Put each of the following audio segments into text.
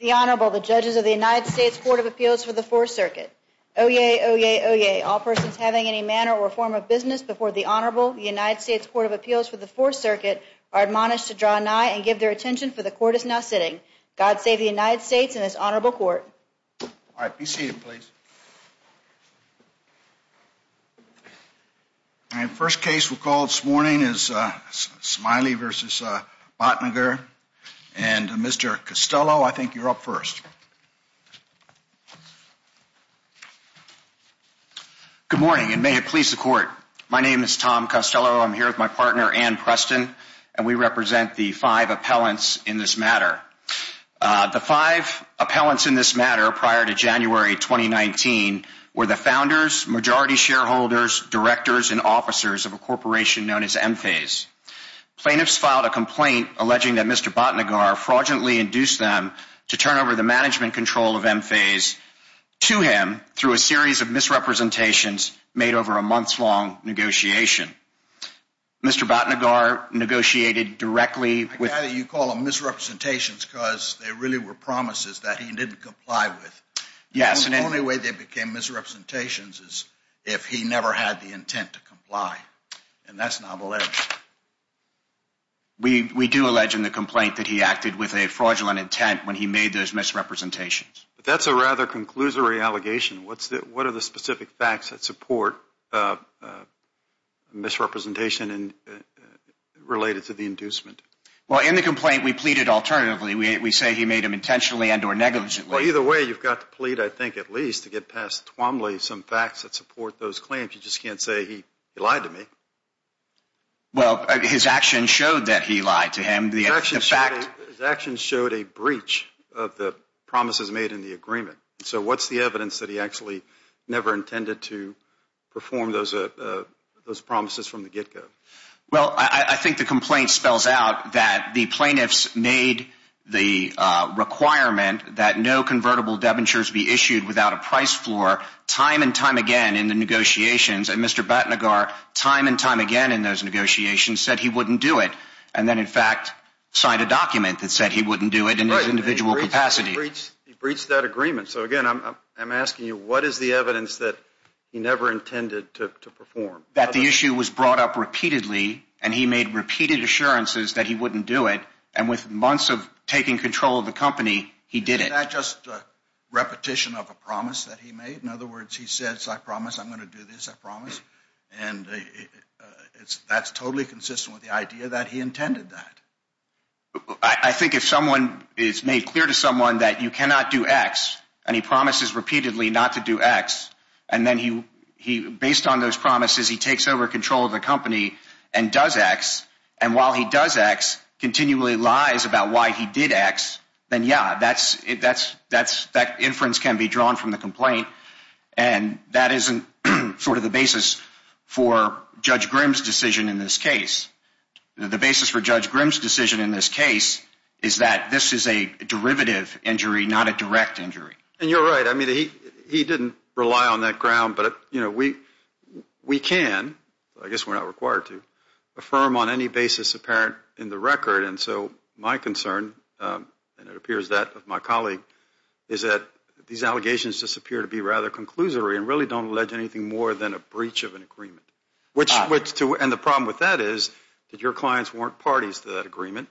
The Honorable, the Judges of the United States Court of Appeals for the Fourth Circuit. Oyez, oyez, oyez, all persons having any manner or form of business before the Honorable United States Court of Appeals for the Fourth Circuit are admonished to draw nigh and give their attention for the Court is now sitting. God save the United States and this Honorable Court. All right. Be seated, please. All right. First case we'll call this morning is Smiley v. Bhatnagar. And, Mr. Costello, I think you're up first. Good morning, and may it please the Court. My name is Tom Costello. I'm here with my partner, Ann Preston, and we represent the five appellants in this matter. The five appellants in this matter prior to January 2019 were the founders, majority shareholders, directors, and officers of a corporation known as Enphase. Plaintiffs filed a complaint alleging that Mr. Bhatnagar fraudulently induced them to turn over the management control of Enphase to him through a series of misrepresentations made over a months-long negotiation. Mr. Bhatnagar negotiated directly with You call them misrepresentations because they really were promises that he didn't comply with. Yes. The only way they became misrepresentations is if he never had the intent to comply, and that's not alleged. We do allege in the complaint that he acted with a fraudulent intent when he made those misrepresentations. That's a rather conclusory allegation. What are the specific facts that support misrepresentation related to the inducement? In the complaint, we pleaded alternatively. We say he made them intentionally and or negligently. Either way, you've got to plead, I think, at least to get past Twombly some facts that support those claims. You just can't say he lied to me. Well, his actions showed that he lied to him. His actions showed a breach of the promises made in the agreement. So what's the evidence that he actually never intended to perform those promises from the get-go? Well, I think the complaint spells out that the plaintiffs made the requirement that no convertible debentures be issued without a price floor time and time again in the negotiations, and Mr. Batnagar time and time again in those negotiations said he wouldn't do it, and then, in fact, signed a document that said he wouldn't do it in his individual capacity. He breached that agreement. So, again, I'm asking you, what is the evidence that he never intended to perform? That the issue was brought up repeatedly, and he made repeated assurances that he wouldn't do it, and with months of taking control of the company, he did it. Is that just repetition of a promise that he made? In other words, he says, I promise I'm going to do this, I promise, and that's totally consistent with the idea that he intended that. I think if someone is made clear to someone that you cannot do X, and he promises repeatedly not to do X, and then, based on those promises, he takes over control of the company and does X, and while he does X, continually lies about why he did X, then, yeah, that inference can be drawn from the complaint, and that isn't sort of the basis for Judge Grimm's decision in this case. The basis for Judge Grimm's decision in this case is that this is a derivative injury, not a direct injury. And you're right. I mean, he didn't rely on that ground, but, you know, we can, I guess we're not required to, affirm on any basis apparent in the record, and so my concern, and it appears that of my colleague, is that these allegations just appear to be rather conclusory and really don't allege anything more than a breach of an agreement, and the problem with that is that your clients weren't parties to that agreement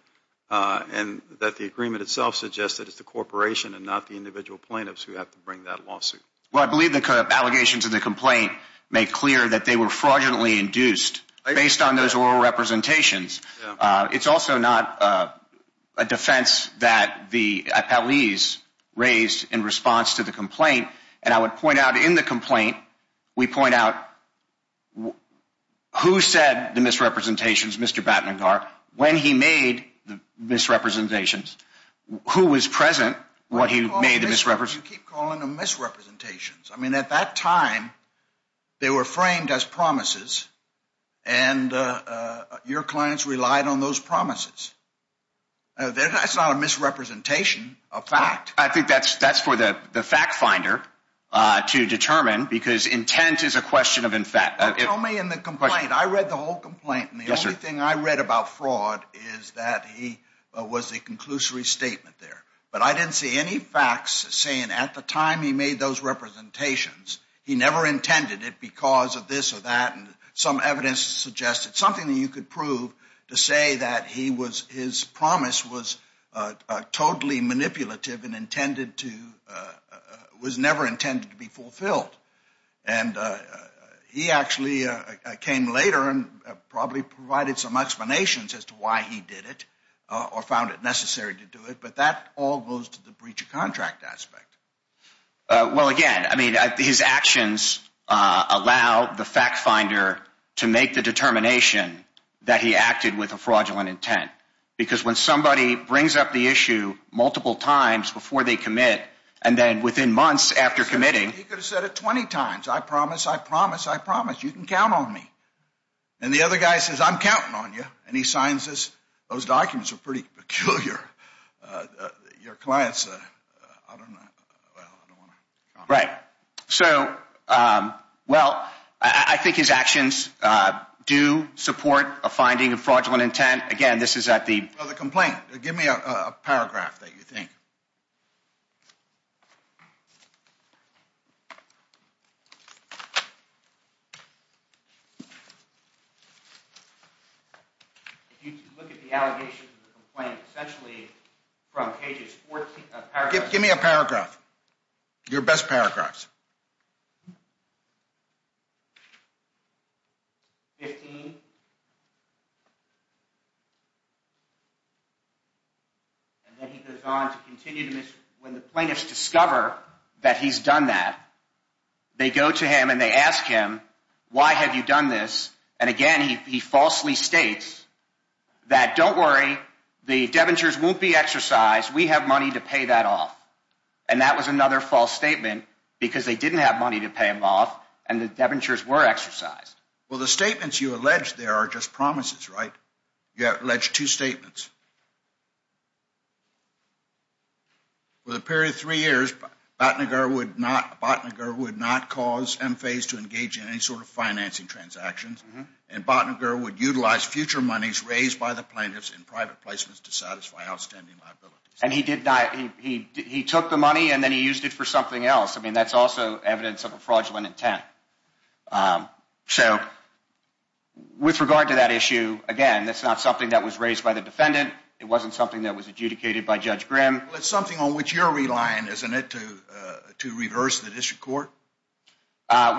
and that the agreement itself suggests that it's the corporation and not the individual plaintiffs who have to bring that lawsuit. Well, I believe the allegations of the complaint make clear that they were fraudulently induced based on those oral representations. It's also not a defense that the appellees raised in response to the complaint, and I would point out in the complaint, we point out who said the misrepresentations, Mr. Battenegar, when he made the misrepresentations. Who was present when he made the misrepresentations? You keep calling them misrepresentations. I mean, at that time, they were framed as promises, and your clients relied on those promises. That's not a misrepresentation of fact. I think that's for the fact finder to determine because intent is a question of in fact. Tell me in the complaint, I read the whole complaint, and the only thing I read about fraud is that he was a conclusory statement there, but I didn't see any facts saying at the time he made those representations, he never intended it because of this or that, and some evidence suggests it's something that you could prove to say that his promise was totally manipulative and was never intended to be fulfilled, and he actually came later and probably provided some explanations as to why he did it or found it necessary to do it, but that all goes to the breach of contract aspect. Well, again, I mean, his actions allow the fact finder to make the determination that he acted with a fraudulent intent because when somebody brings up the issue multiple times before they commit, and then within months after committing. He could have said it 20 times. I promise, I promise, I promise. You can count on me. And the other guy says, I'm counting on you, and he signs this. Those documents are pretty peculiar. Your clients, I don't know, well, I don't want to comment. Right. So, well, I think his actions do support a finding of fraudulent intent. Well, the complaint. Give me a paragraph that you think. If you look at the allegations of the complaint, essentially from pages 14. Give me a paragraph. Your best paragraphs. 15. And then he goes on to continue to miss when the plaintiffs discover that he's done that. They go to him and they ask him, why have you done this? And again, he falsely states that. Don't worry. The debentures won't be exercised. We have money to pay that off. And that was another false statement because they didn't have money to pay him off, and the debentures were exercised. Well, the statements you allege there are just promises, right? You have alleged two statements. For the period of three years, Botninger would not cause M-Phase to engage in any sort of financing transactions. And Botninger would utilize future monies raised by the plaintiffs in private placements to satisfy outstanding liabilities. And he did not. He took the money and then he used it for something else. I mean, that's also evidence of a fraudulent intent. So with regard to that issue, again, that's not something that was raised by the defendant. It wasn't something that was adjudicated by Judge Grimm. Well, it's something on which you're relying, isn't it, to reverse the district court?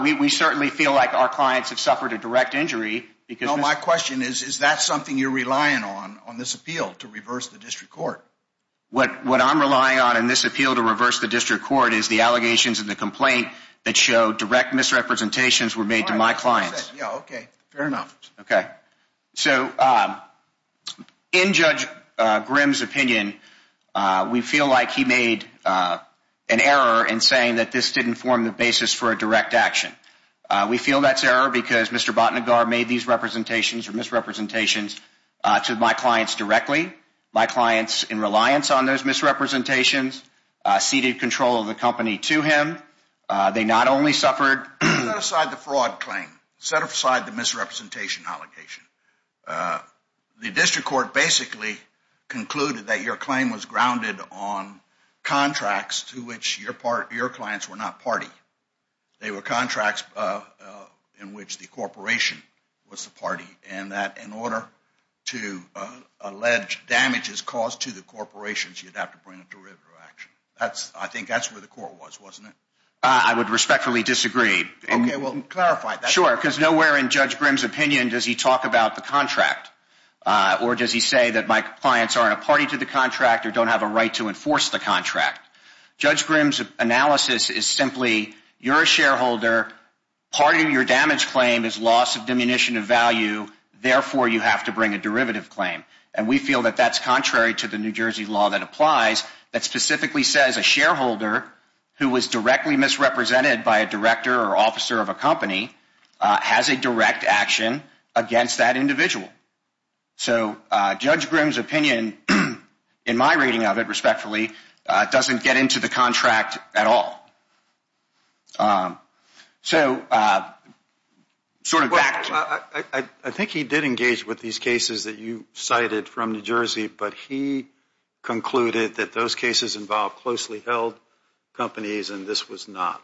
We certainly feel like our clients have suffered a direct injury. No, my question is, is that something you're relying on, on this appeal, to reverse the district court? What I'm relying on in this appeal to reverse the district court is the allegations in the complaint that show direct misrepresentations were made to my clients. Yeah, okay. Fair enough. Okay. So in Judge Grimm's opinion, we feel like he made an error in saying that this didn't form the basis for a direct action. We feel that's error because Mr. Batnagar made these representations or misrepresentations to my clients directly. My clients, in reliance on those misrepresentations, ceded control of the company to him. They not only suffered- Set aside the fraud claim. Set aside the misrepresentation allegation. The district court basically concluded that your claim was grounded on contracts to which your clients were not party. They were contracts in which the corporation was the party. And that in order to allege damages caused to the corporations, you'd have to bring a derivative action. I think that's where the court was, wasn't it? I would respectfully disagree. Okay, well, clarify. Sure, because nowhere in Judge Grimm's opinion does he talk about the contract. Or does he say that my clients aren't a party to the contract or don't have a right to enforce the contract. Judge Grimm's analysis is simply, you're a shareholder. Part of your damage claim is loss of diminution of value. Therefore, you have to bring a derivative claim. And we feel that that's contrary to the New Jersey law that applies that specifically says a shareholder who was directly misrepresented by a director or officer of a company has a direct action against that individual. So Judge Grimm's opinion, in my rating of it respectfully, doesn't get into the contract at all. I think he did engage with these cases that you cited from New Jersey, but he concluded that those cases involved closely held companies and this was not.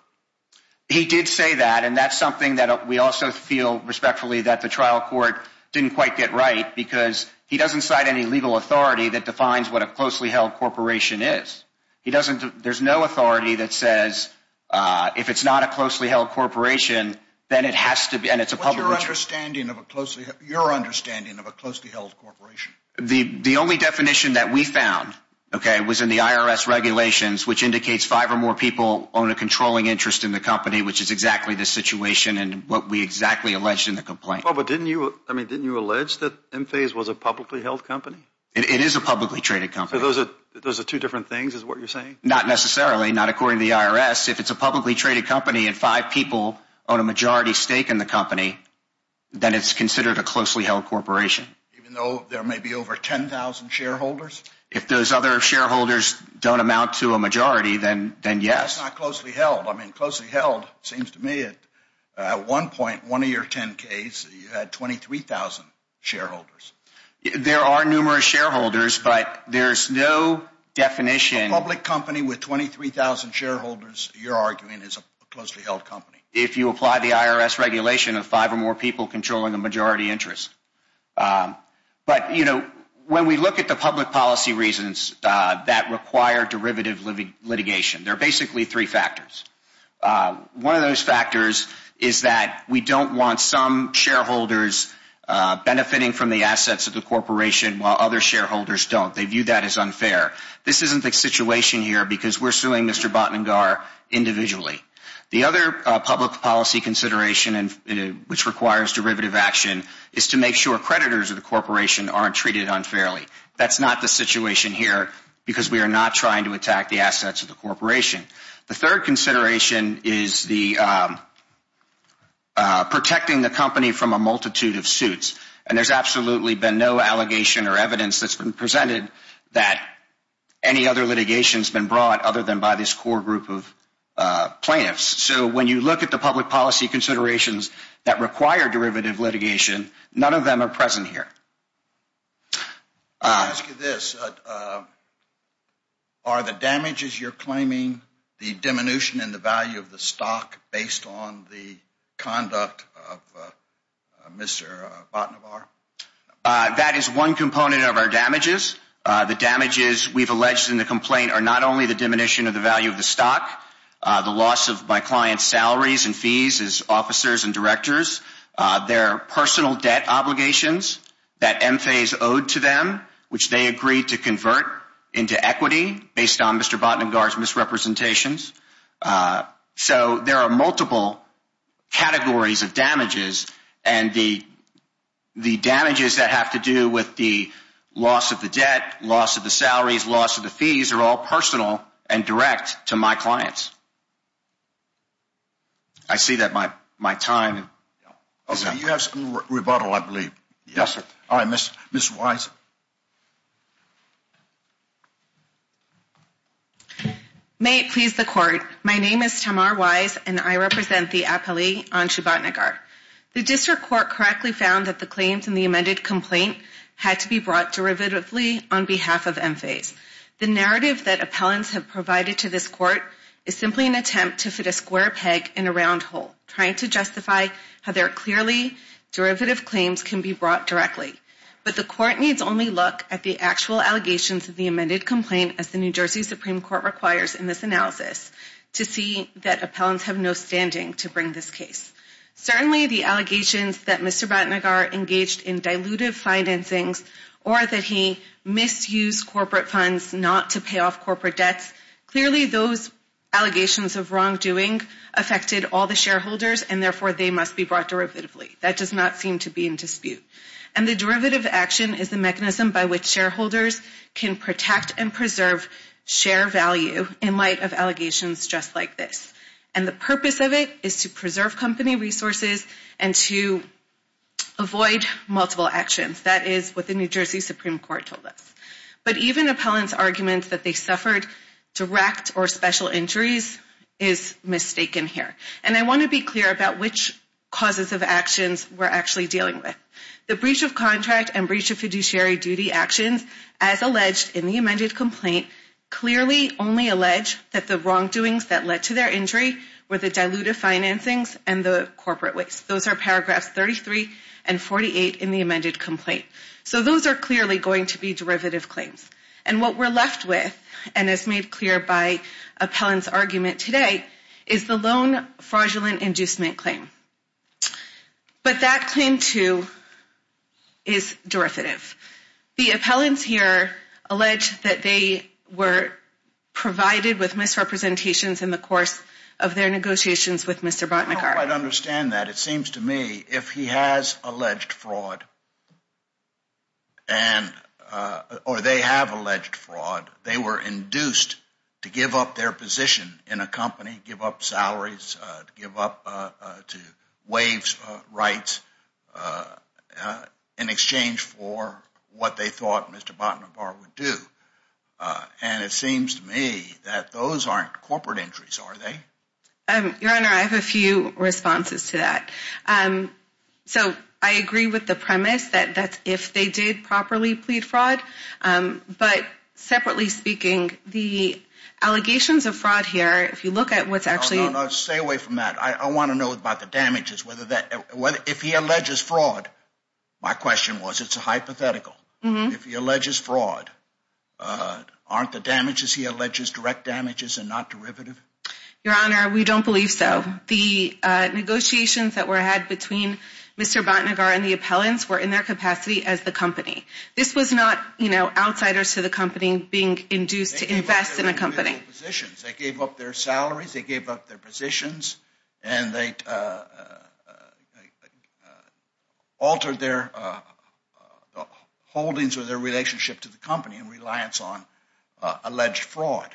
He did say that and that's something that we also feel respectfully that the trial court didn't quite get right because he doesn't cite any legal authority that defines what a closely held corporation is. He doesn't, there's no authority that says if it's not a closely held corporation, then it has to be and it's a public interest. What's your understanding of a closely, your understanding of a closely held corporation? The only definition that we found, okay, was in the IRS regulations, which indicates five or more people own a controlling interest in the company, which is exactly the situation and what we exactly alleged in the complaint. Well, but didn't you, I mean, didn't you allege that Enphase was a publicly held company? It is a publicly traded company. So those are two different things is what you're saying? Not necessarily, not according to the IRS. If it's a publicly traded company and five people own a majority stake in the company, then it's considered a closely held corporation. Even though there may be over 10,000 shareholders? If those other shareholders don't amount to a majority, then yes. That's not closely held. I mean, closely held seems to me at one point, one of your 10Ks, you had 23,000 shareholders. There are numerous shareholders, but there's no definition. A public company with 23,000 shareholders, you're arguing is a closely held company. If you apply the IRS regulation of five or more people controlling a majority interest. But, you know, when we look at the public policy reasons that require derivative litigation, there are basically three factors. One of those factors is that we don't want some shareholders benefiting from the assets of the corporation while other shareholders don't. They view that as unfair. This isn't the situation here because we're suing Mr. Batnagar individually. The other public policy consideration which requires derivative action is to make sure creditors of the corporation aren't treated unfairly. That's not the situation here because we are not trying to attack the assets of the corporation. The third consideration is the protecting the company from a multitude of suits. And there's absolutely been no allegation or evidence that's been presented that any other litigation has been brought other than by this core group of plaintiffs. So when you look at the public policy considerations that require derivative litigation, none of them are present here. Let me ask you this. Are the damages you're claiming the diminution in the value of the stock based on the conduct of Mr. Batnagar? That is one component of our damages. The damages we've alleged in the complaint are not only the diminution of the value of the stock. The loss of my client's salaries and fees as officers and directors. There are personal debt obligations that M-Phase owed to them, which they agreed to convert into equity based on Mr. Batnagar's misrepresentations. So there are multiple categories of damages. And the damages that have to do with the loss of the debt, loss of the salaries, loss of the fees are all personal and direct to my clients. I see that my time is up. Okay, you have some rebuttal, I believe. Yes, sir. All right, Ms. Wise. May it please the court. My name is Tamar Wise, and I represent the appellee on Mr. Batnagar. The district court correctly found that the claims in the amended complaint had to be brought derivatively on behalf of M-Phase. The narrative that appellants have provided to this court is simply an attempt to fit a square peg in a round hole, trying to justify how their clearly derivative claims can be brought directly. But the court needs only look at the actual allegations of the amended complaint, as the New Jersey Supreme Court requires in this analysis, to see that appellants have no standing to bring this case. Certainly the allegations that Mr. Batnagar engaged in dilutive financings or that he misused corporate funds not to pay off corporate debts, clearly those allegations of wrongdoing affected all the shareholders, and therefore they must be brought derivatively. That does not seem to be in dispute. And the derivative action is the mechanism by which shareholders can protect and preserve share value in light of allegations just like this. And the purpose of it is to preserve company resources and to avoid multiple actions. That is what the New Jersey Supreme Court told us. But even appellants' arguments that they suffered direct or special injuries is mistaken here. And I want to be clear about which causes of actions we're actually dealing with. The breach of contract and breach of fiduciary duty actions, as alleged in the amended complaint, clearly only allege that the wrongdoings that led to their injury were the dilutive financings and the corporate waste. Those are paragraphs 33 and 48 in the amended complaint. So those are clearly going to be derivative claims. And what we're left with, and is made clear by appellants' argument today, is the loan fraudulent inducement claim. But that claim, too, is derivative. The appellants here allege that they were provided with misrepresentations in the course of their negotiations with Mr. Botnikar. I don't quite understand that. It seems to me if he has alleged fraud or they have alleged fraud, they were induced to give up their position in a company, give up salaries, give up to waive rights in exchange for what they thought Mr. Botnikar would do. And it seems to me that those aren't corporate injuries, are they? Your Honor, I have a few responses to that. So I agree with the premise that that's if they did properly plead fraud. But separately speaking, the allegations of fraud here, if you look at what's actually- No, no, no, stay away from that. I want to know about the damages. If he alleges fraud, my question was, it's a hypothetical. If he alleges fraud, aren't the damages he alleges direct damages and not derivative? Your Honor, we don't believe so. The negotiations that were had between Mr. Botnikar and the appellants were in their capacity as the company. This was not outsiders to the company being induced to invest in a company. They gave up their positions. They gave up their salaries. They gave up their positions. And they altered their holdings or their relationship to the company in reliance on alleged fraud.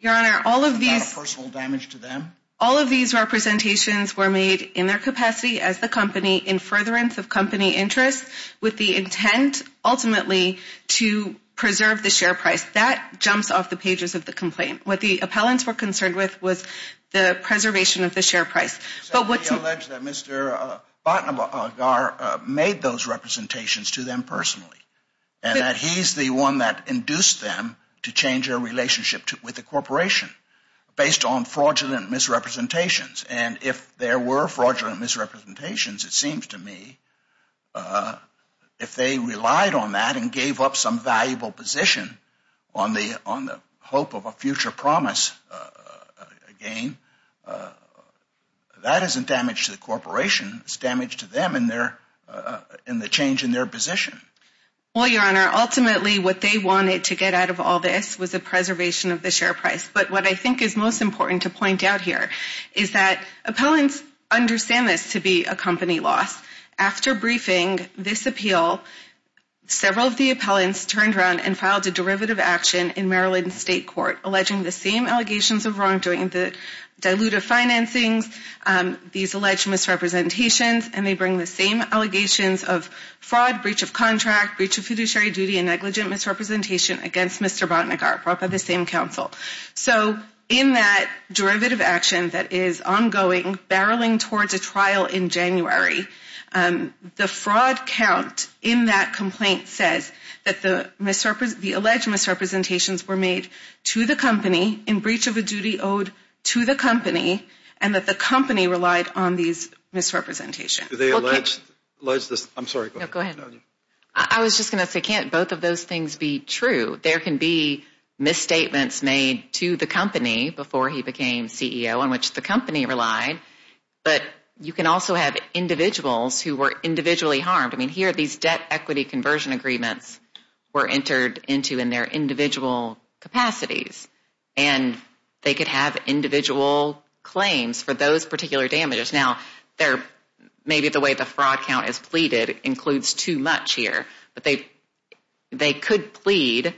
Your Honor, all of these- Is that a personal damage to them? All of these representations were made in their capacity as the company in furtherance of company interests with the intent, ultimately, to preserve the share price. That jumps off the pages of the complaint. What the appellants were concerned with was the preservation of the share price. But what's- He alleged that Mr. Botnikar made those representations to them personally and that he's the one that induced them to change their relationship with the corporation based on fraudulent misrepresentations. And if there were fraudulent misrepresentations, it seems to me, if they relied on that and gave up some valuable position on the hope of a future promise again, that isn't damage to the corporation. It's damage to them and the change in their position. Well, Your Honor, ultimately, what they wanted to get out of all this was the preservation of the share price. But what I think is most important to point out here is that appellants understand this to be a company loss. After briefing this appeal, several of the appellants turned around and filed a derivative action in Maryland State Court alleging the same allegations of wrongdoing, the dilutive financing, these alleged misrepresentations, and they bring the same allegations of fraud, breach of contract, breach of fiduciary duty, and negligent misrepresentation against Mr. Bhatnagar brought by the same counsel. So in that derivative action that is ongoing, barreling towards a trial in January, the fraud count in that complaint says that the alleged misrepresentations were made to the company in breach of a duty owed to the company and that the company relied on these misrepresentations. Do they allege this? I'm sorry. No, go ahead. I was just going to say, can't both of those things be true? There can be misstatements made to the company before he became CEO on which the company relied, but you can also have individuals who were individually harmed. I mean, here, these debt equity conversion agreements were entered into in their individual capacities, and they could have individual claims for those particular damages. Now, maybe the way the fraud count is pleaded includes too much here, but they could plead,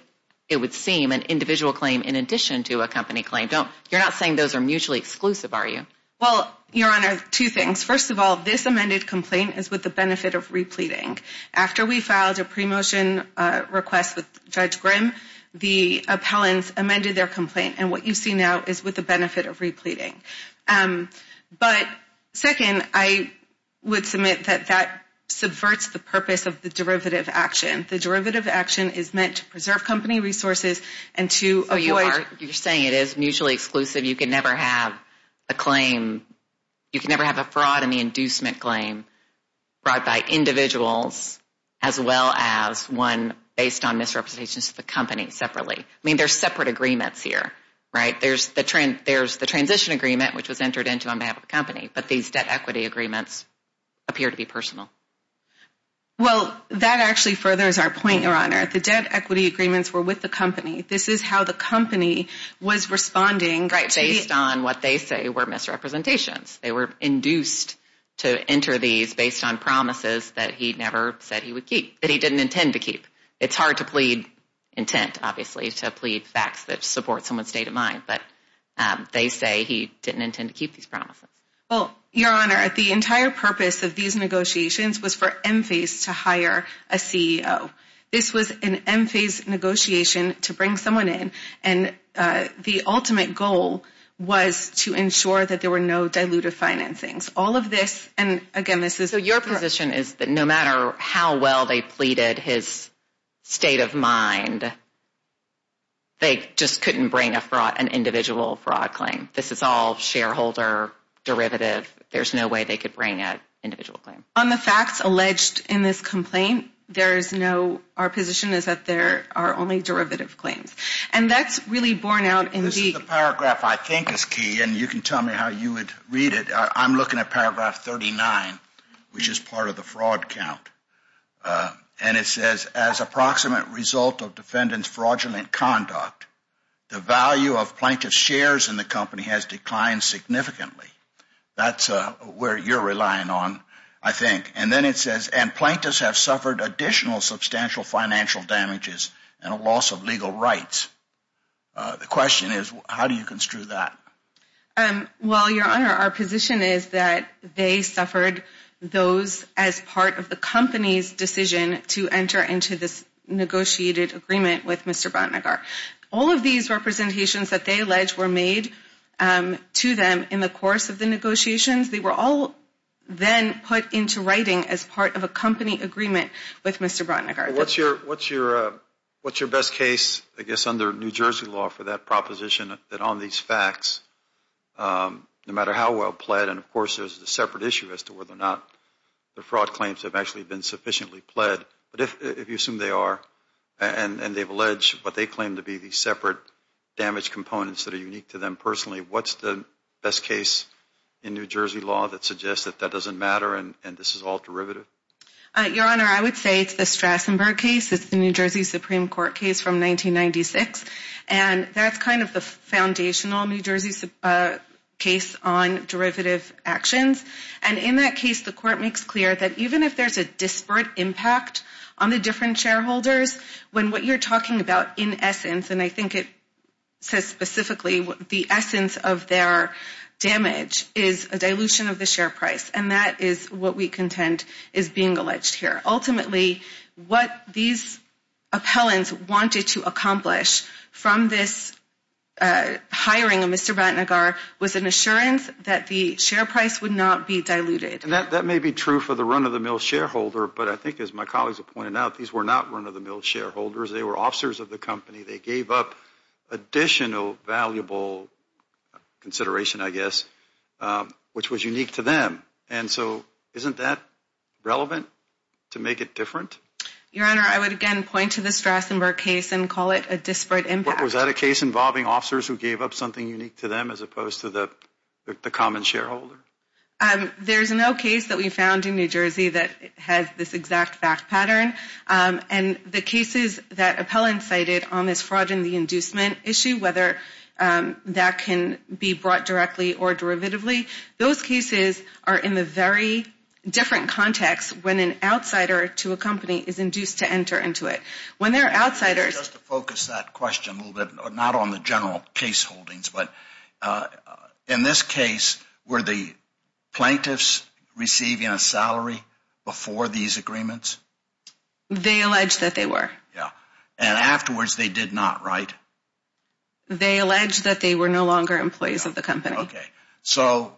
it would seem, an individual claim in addition to a company claim. You're not saying those are mutually exclusive, are you? Well, Your Honor, two things. First of all, this amended complaint is with the benefit of repleting. After we filed a pre-motion request with Judge Grimm, the appellants amended their complaint, and what you see now is with the benefit of repleting. But second, I would submit that that subverts the purpose of the derivative action. The derivative action is meant to preserve company resources and to avoid. So you're saying it is mutually exclusive, you can never have a claim, you can never have a fraud in the inducement claim brought by individuals as well as one based on misrepresentations to the company separately. I mean, there's separate agreements here, right? There's the transition agreement, which was entered into on behalf of the company, but these debt equity agreements appear to be personal. Well, that actually furthers our point, Your Honor. The debt equity agreements were with the company. This is how the company was responding. Based on what they say were misrepresentations. They were induced to enter these based on promises that he never said he would keep, that he didn't intend to keep. It's hard to plead intent, obviously, to plead facts that support someone's state of mind, but they say he didn't intend to keep these promises. Well, Your Honor, the entire purpose of these negotiations was for Enphase to hire a CEO. This was an Enphase negotiation to bring someone in, and the ultimate goal was to ensure that there were no dilutive financings. All of this, and again, this is a- So your position is that no matter how well they pleaded his state of mind, they just couldn't bring an individual fraud claim. This is all shareholder derivative. There's no way they could bring an individual claim. On the facts alleged in this complaint, there is no- our position is that there are only derivative claims, and that's really borne out in the- This is the paragraph I think is key, and you can tell me how you would read it. I'm looking at paragraph 39, which is part of the fraud count, and it says, as approximate result of defendant's fraudulent conduct, the value of plaintiff's shares in the company has declined significantly. That's where you're relying on, I think. And then it says, and plaintiffs have suffered additional substantial financial damages and a loss of legal rights. The question is, how do you construe that? Well, Your Honor, our position is that they suffered those as part of the company's decision to enter into this negotiated agreement with Mr. Bratnagar. All of these representations that they allege were made to them in the course of the negotiations, they were all then put into writing as part of a company agreement with Mr. Bratnagar. What's your best case, I guess, under New Jersey law for that proposition, that on these facts, no matter how well pled, and of course there's a separate issue as to whether or not the fraud claims have actually been sufficiently pled, but if you assume they are, and they've alleged what they claim to be the separate damage components that are unique to them personally, what's the best case in New Jersey law that suggests that that doesn't matter and this is all derivative? Your Honor, I would say it's the Strassenburg case. It's the New Jersey Supreme Court case from 1996, and that's kind of the foundational New Jersey case on derivative actions, and in that case the court makes clear that even if there's a disparate impact on the different shareholders, when what you're talking about in essence, and I think it says specifically the essence of their damage is a dilution of the share price, and that is what we contend is being alleged here. Ultimately, what these appellants wanted to accomplish from this hiring of Mr. Batnagar was an assurance that the share price would not be diluted. That may be true for the run-of-the-mill shareholder, but I think as my colleagues have pointed out, these were not run-of-the-mill shareholders. They were officers of the company. They gave up additional valuable consideration, I guess, which was unique to them, and so isn't that relevant to make it different? Your Honor, I would again point to the Strassenburg case and call it a disparate impact. Was that a case involving officers who gave up something unique to them as opposed to the common shareholder? There's no case that we found in New Jersey that has this exact back pattern, and the cases that appellants cited on this fraud and the inducement issue, whether that can be brought directly or derivatively, those cases are in a very different context when an outsider to a company is induced to enter into it. When there are outsiders... Just to focus that question a little bit, not on the general case holdings, but in this case, were the plaintiffs receiving a salary before these agreements? They alleged that they were. Yeah, and afterwards they did not, right? They alleged that they were no longer employees of the company. Okay. So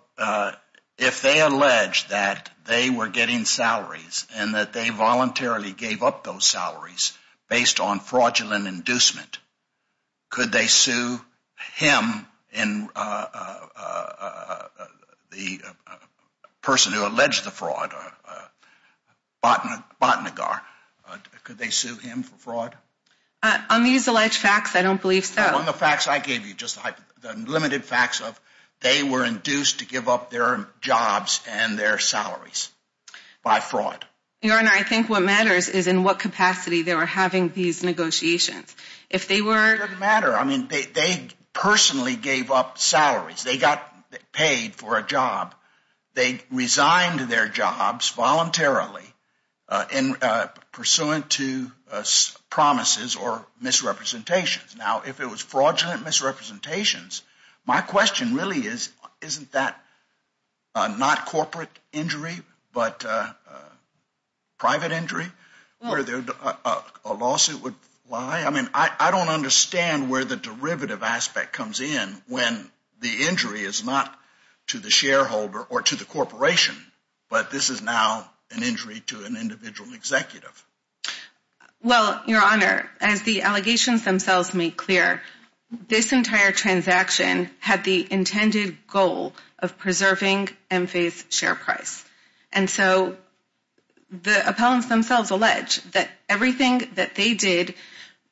if they alleged that they were getting salaries and that they voluntarily gave up those salaries based on fraudulent inducement, could they sue him, the person who alleged the fraud, Batnagar? Could they sue him for fraud? On these alleged facts, I don't believe so. On the facts I gave you, just the limited facts of they were induced to give up their jobs and their salaries by fraud. Your Honor, I think what matters is in what capacity they were having these negotiations. If they were... It doesn't matter. I mean, they personally gave up salaries. They got paid for a job. They resigned their jobs voluntarily pursuant to promises or misrepresentations. Now, if it was fraudulent misrepresentations, my question really is, isn't that not corporate injury but private injury where a lawsuit would lie? I mean, I don't understand where the derivative aspect comes in when the injury is not to the shareholder or to the corporation, but this is now an injury to an individual executive. Well, Your Honor, as the allegations themselves make clear, this entire transaction had the intended goal of preserving MFA's share price. And so the appellants themselves allege that everything that they did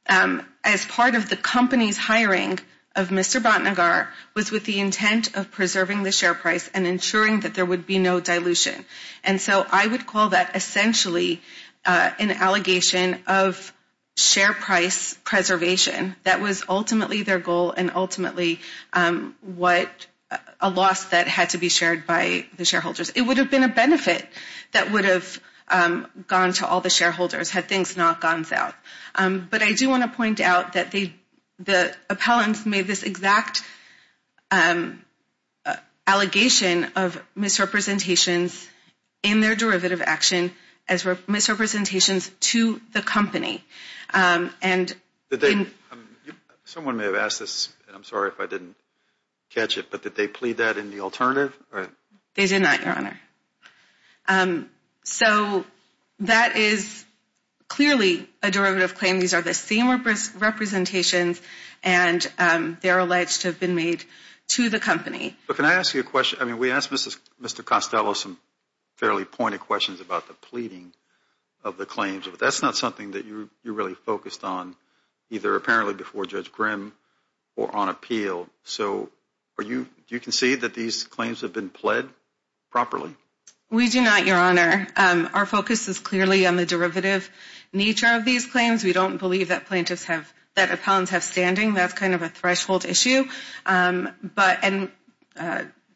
as part of the company's hiring of Mr. Batnagar was with the intent of preserving the share price and ensuring that there would be no dilution. And so I would call that essentially an allegation of share price preservation. That was ultimately their goal and ultimately a loss that had to be shared by the shareholders. It would have been a benefit that would have gone to all the shareholders had things not gone south. But I do want to point out that the appellants made this exact allegation of misrepresentations in their derivative action as misrepresentations to the company. Someone may have asked this, and I'm sorry if I didn't catch it, but did they plead that in the alternative? They did not, Your Honor. So that is clearly a derivative claim. These are the same representations, and they're alleged to have been made to the company. But can I ask you a question? I mean, we asked Mr. Costello some fairly pointed questions about the pleading of the claims, but that's not something that you're really focused on, either apparently before Judge Grimm or on appeal. So do you concede that these claims have been pled properly? We do not, Your Honor. Our focus is clearly on the derivative nature of these claims. We don't believe that appellants have standing. That's kind of a threshold issue. And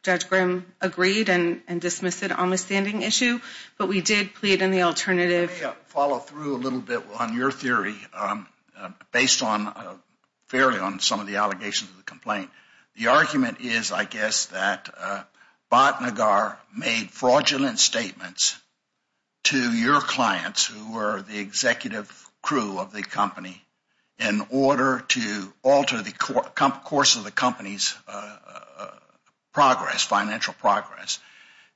Judge Grimm agreed and dismissed it on the standing issue, but we did plead in the alternative. Let me follow through a little bit on your theory based fairly on some of the allegations of the complaint. The argument is, I guess, that Batnagar made fraudulent statements to your clients, who were the executive crew of the company, in order to alter the course of the company's progress, financial progress.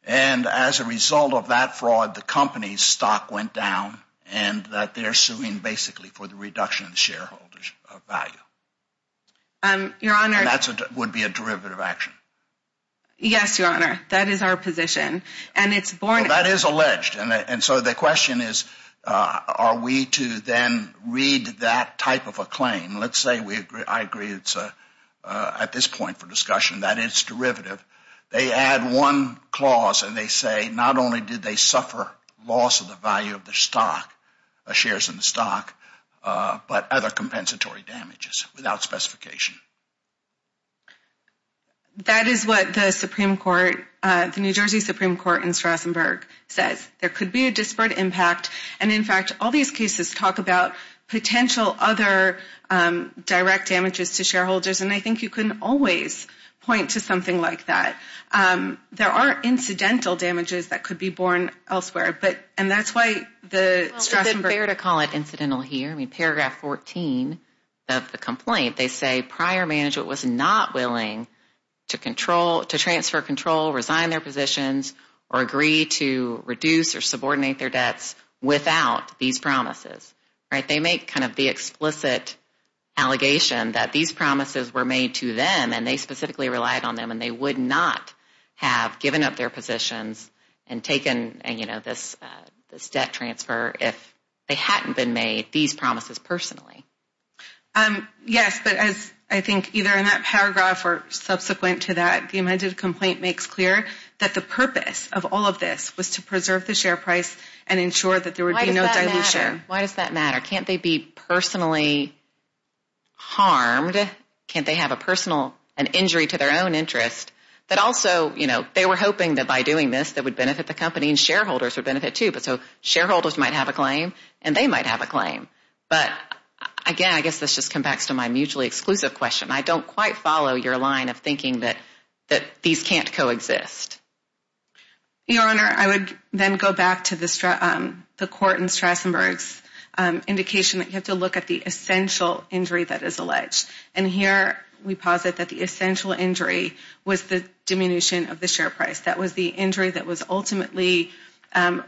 And as a result of that fraud, the company's stock went down, and that they're suing basically for the reduction of the shareholder's value. And that would be a derivative action. Yes, Your Honor. That is our position. Well, that is alleged. And so the question is, are we to then read that type of a claim? Let's say I agree it's at this point for discussion that it's derivative. They add one clause, and they say not only did they suffer loss of the value of the stock, the shares in the stock, but other compensatory damages without specification. That is what the Supreme Court, the New Jersey Supreme Court in Strasburg, says. There could be a disparate impact. And, in fact, all these cases talk about potential other direct damages to shareholders, and I think you can always point to something like that. There are incidental damages that could be borne elsewhere, and that's why the Strasburg. Well, is it fair to call it incidental here? Paragraph 14 of the complaint, they say prior management was not willing to transfer control, resign their positions, or agree to reduce or subordinate their debts without these promises. They make kind of the explicit allegation that these promises were made to them, and they specifically relied on them, and they would not have given up their positions and taken this debt transfer if they hadn't been made these promises personally. Yes, but I think either in that paragraph or subsequent to that, the amended complaint makes clear that the purpose of all of this was to preserve the share price and ensure that there would be no dilution. Why does that matter? Can't they be personally harmed? Can't they have an injury to their own interest? But also, you know, they were hoping that by doing this, that would benefit the company and shareholders would benefit too, but so shareholders might have a claim and they might have a claim. But again, I guess this just comes back to my mutually exclusive question. I don't quite follow your line of thinking that these can't coexist. Your Honor, I would then go back to the court in Strasburg's indication that you have to look at the essential injury that is alleged, and here we posit that the essential injury was the diminution of the share price. That was the injury that was ultimately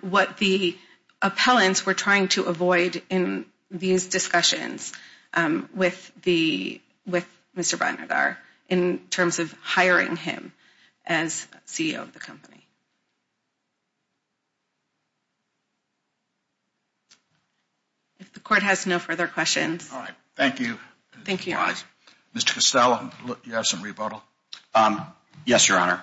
what the appellants were trying to avoid in these discussions with Mr. Barnadar in terms of hiring him as CEO of the company. If the court has no further questions. All right. Mr. Costello, you have some rebuttal? Yes, Your Honor.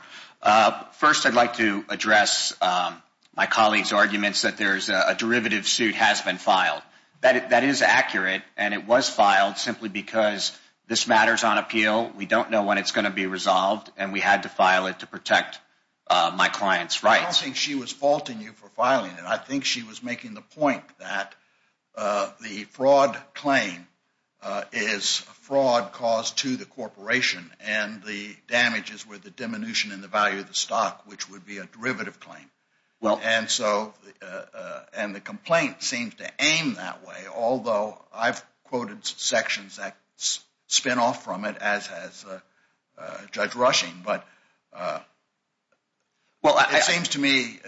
First, I'd like to address my colleague's arguments that a derivative suit has been filed. That is accurate, and it was filed simply because this matters on appeal. We don't know when it's going to be resolved, and we had to file it to protect my client's rights. I don't think she was faulting you for filing it. I think she was making the point that the fraud claim is fraud caused to the corporation, and the damages were the diminution in the value of the stock, which would be a derivative claim. And the complaint seems to aim that way, although I've quoted sections that spin off from it, as has Judge Rushing. But it seems to me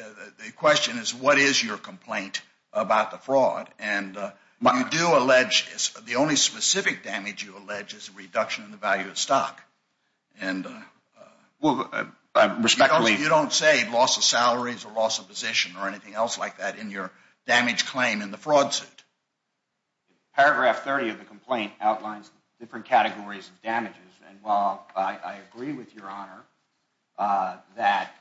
the question is what is your complaint about the fraud? And you do allege the only specific damage you allege is a reduction in the value of stock. Because you don't say loss of salaries or loss of position or anything else like that in your damage claim in the fraud suit. Paragraph 30 of the complaint outlines different categories of damages. And while I agree with Your Honor that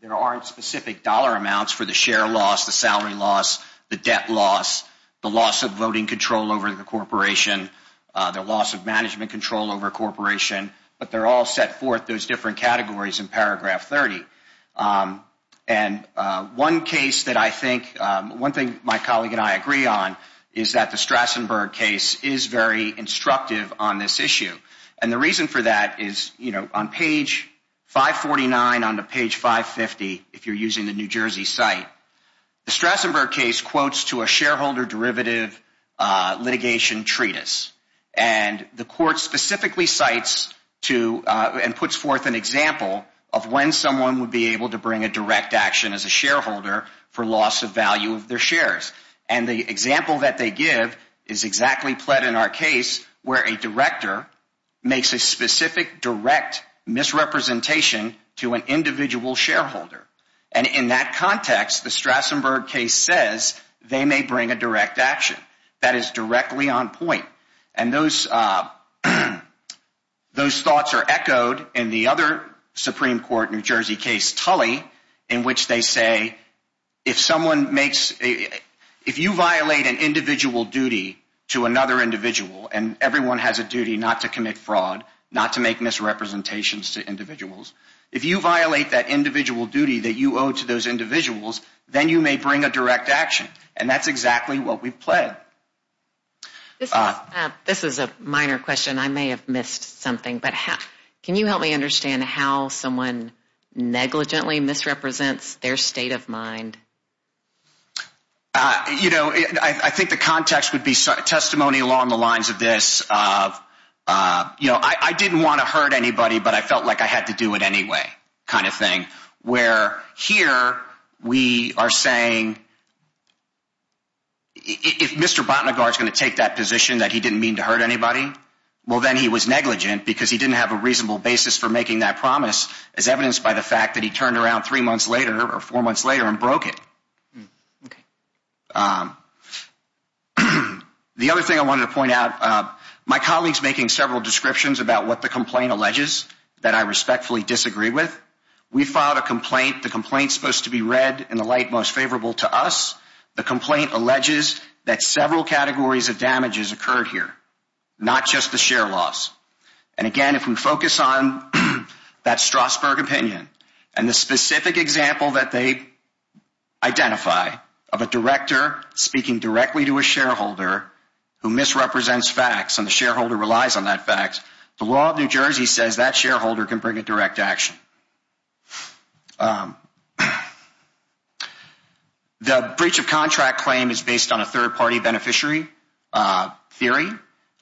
there aren't specific dollar amounts for the share loss, the salary loss, the debt loss, the loss of voting control over the corporation, the loss of management control over a corporation, but they're all set forth those different categories in paragraph 30. And one case that I think, one thing my colleague and I agree on, is that the Strassenberg case is very instructive on this issue. And the reason for that is, you know, on page 549 onto page 550, if you're using the New Jersey site, the Strassenberg case quotes to a shareholder derivative litigation treatise. And the court specifically cites to and puts forth an example of when someone would be able to bring a direct action as a shareholder for loss of value of their shares. And the example that they give is exactly pled in our case where a director makes a specific direct misrepresentation to an individual shareholder. And in that context, the Strassenberg case says they may bring a direct action. That is directly on point. And those thoughts are echoed in the other Supreme Court New Jersey case Tully in which they say if someone makes, if you violate an individual duty to another individual and everyone has a duty not to commit fraud, not to make misrepresentations to individuals, if you violate that individual duty that you owe to those individuals, then you may bring a direct action. And that's exactly what we've pled. This is a minor question. I may have missed something. But can you help me understand how someone negligently misrepresents their state of mind? You know, I think the context would be testimony along the lines of this. You know, I didn't want to hurt anybody, but I felt like I had to do it anyway kind of thing, where here we are saying if Mr. Botnagar is going to take that position that he didn't mean to hurt anybody, well, then he was negligent because he didn't have a reasonable basis for making that promise as evidenced by the fact that he turned around three months later or four months later and broke it. The other thing I wanted to point out, my colleague is making several descriptions about what the complaint alleges that I respectfully disagree with. We filed a complaint. The complaint is supposed to be read in the light most favorable to us. The complaint alleges that several categories of damage has occurred here, not just the share loss. And again, if we focus on that Strasburg opinion and the specific example that they identify of a director speaking directly to a shareholder who misrepresents facts and the shareholder relies on that fact, the law of New Jersey says that shareholder can bring a direct action. The breach of contract claim is based on a third-party beneficiary theory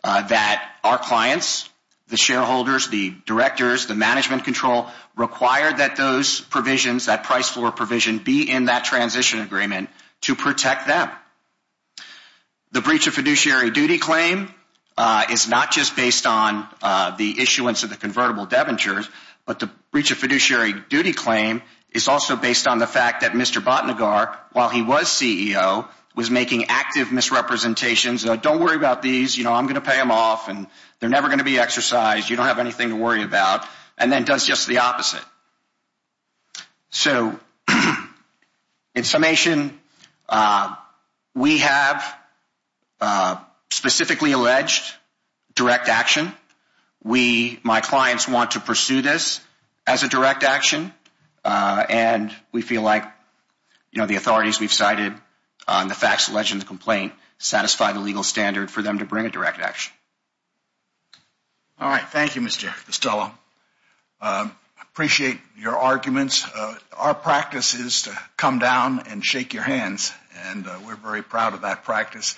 that our clients, the shareholders, the directors, the management control require that those provisions, that price floor provision be in that transition agreement to protect them. The breach of fiduciary duty claim is not just based on the issuance of the convertible debentures, but the breach of fiduciary duty claim is also based on the fact that Mr. Botnagar, while he was CEO, was making active misrepresentations. Don't worry about these. You know, I'm going to pay them off and they're never going to be exercised. You don't have anything to worry about. And then does just the opposite. So in summation, we have specifically alleged direct action. We, my clients, want to pursue this as a direct action. And we feel like, you know, the authorities we've cited on the facts, alleged complaint satisfy the legal standard for them to bring a direct action. All right. Thank you, Mr. Costello. Appreciate your arguments. Our practice is to come down and shake your hands. And we're very proud of that practice.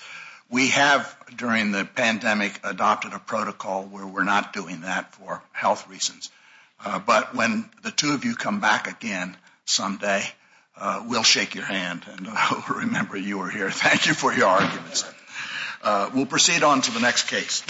We have, during the pandemic, adopted a protocol where we're not doing that for health reasons. But when the two of you come back again someday, we'll shake your hand. And I'll remember you were here. Thank you for your arguments. We'll proceed on to the next case.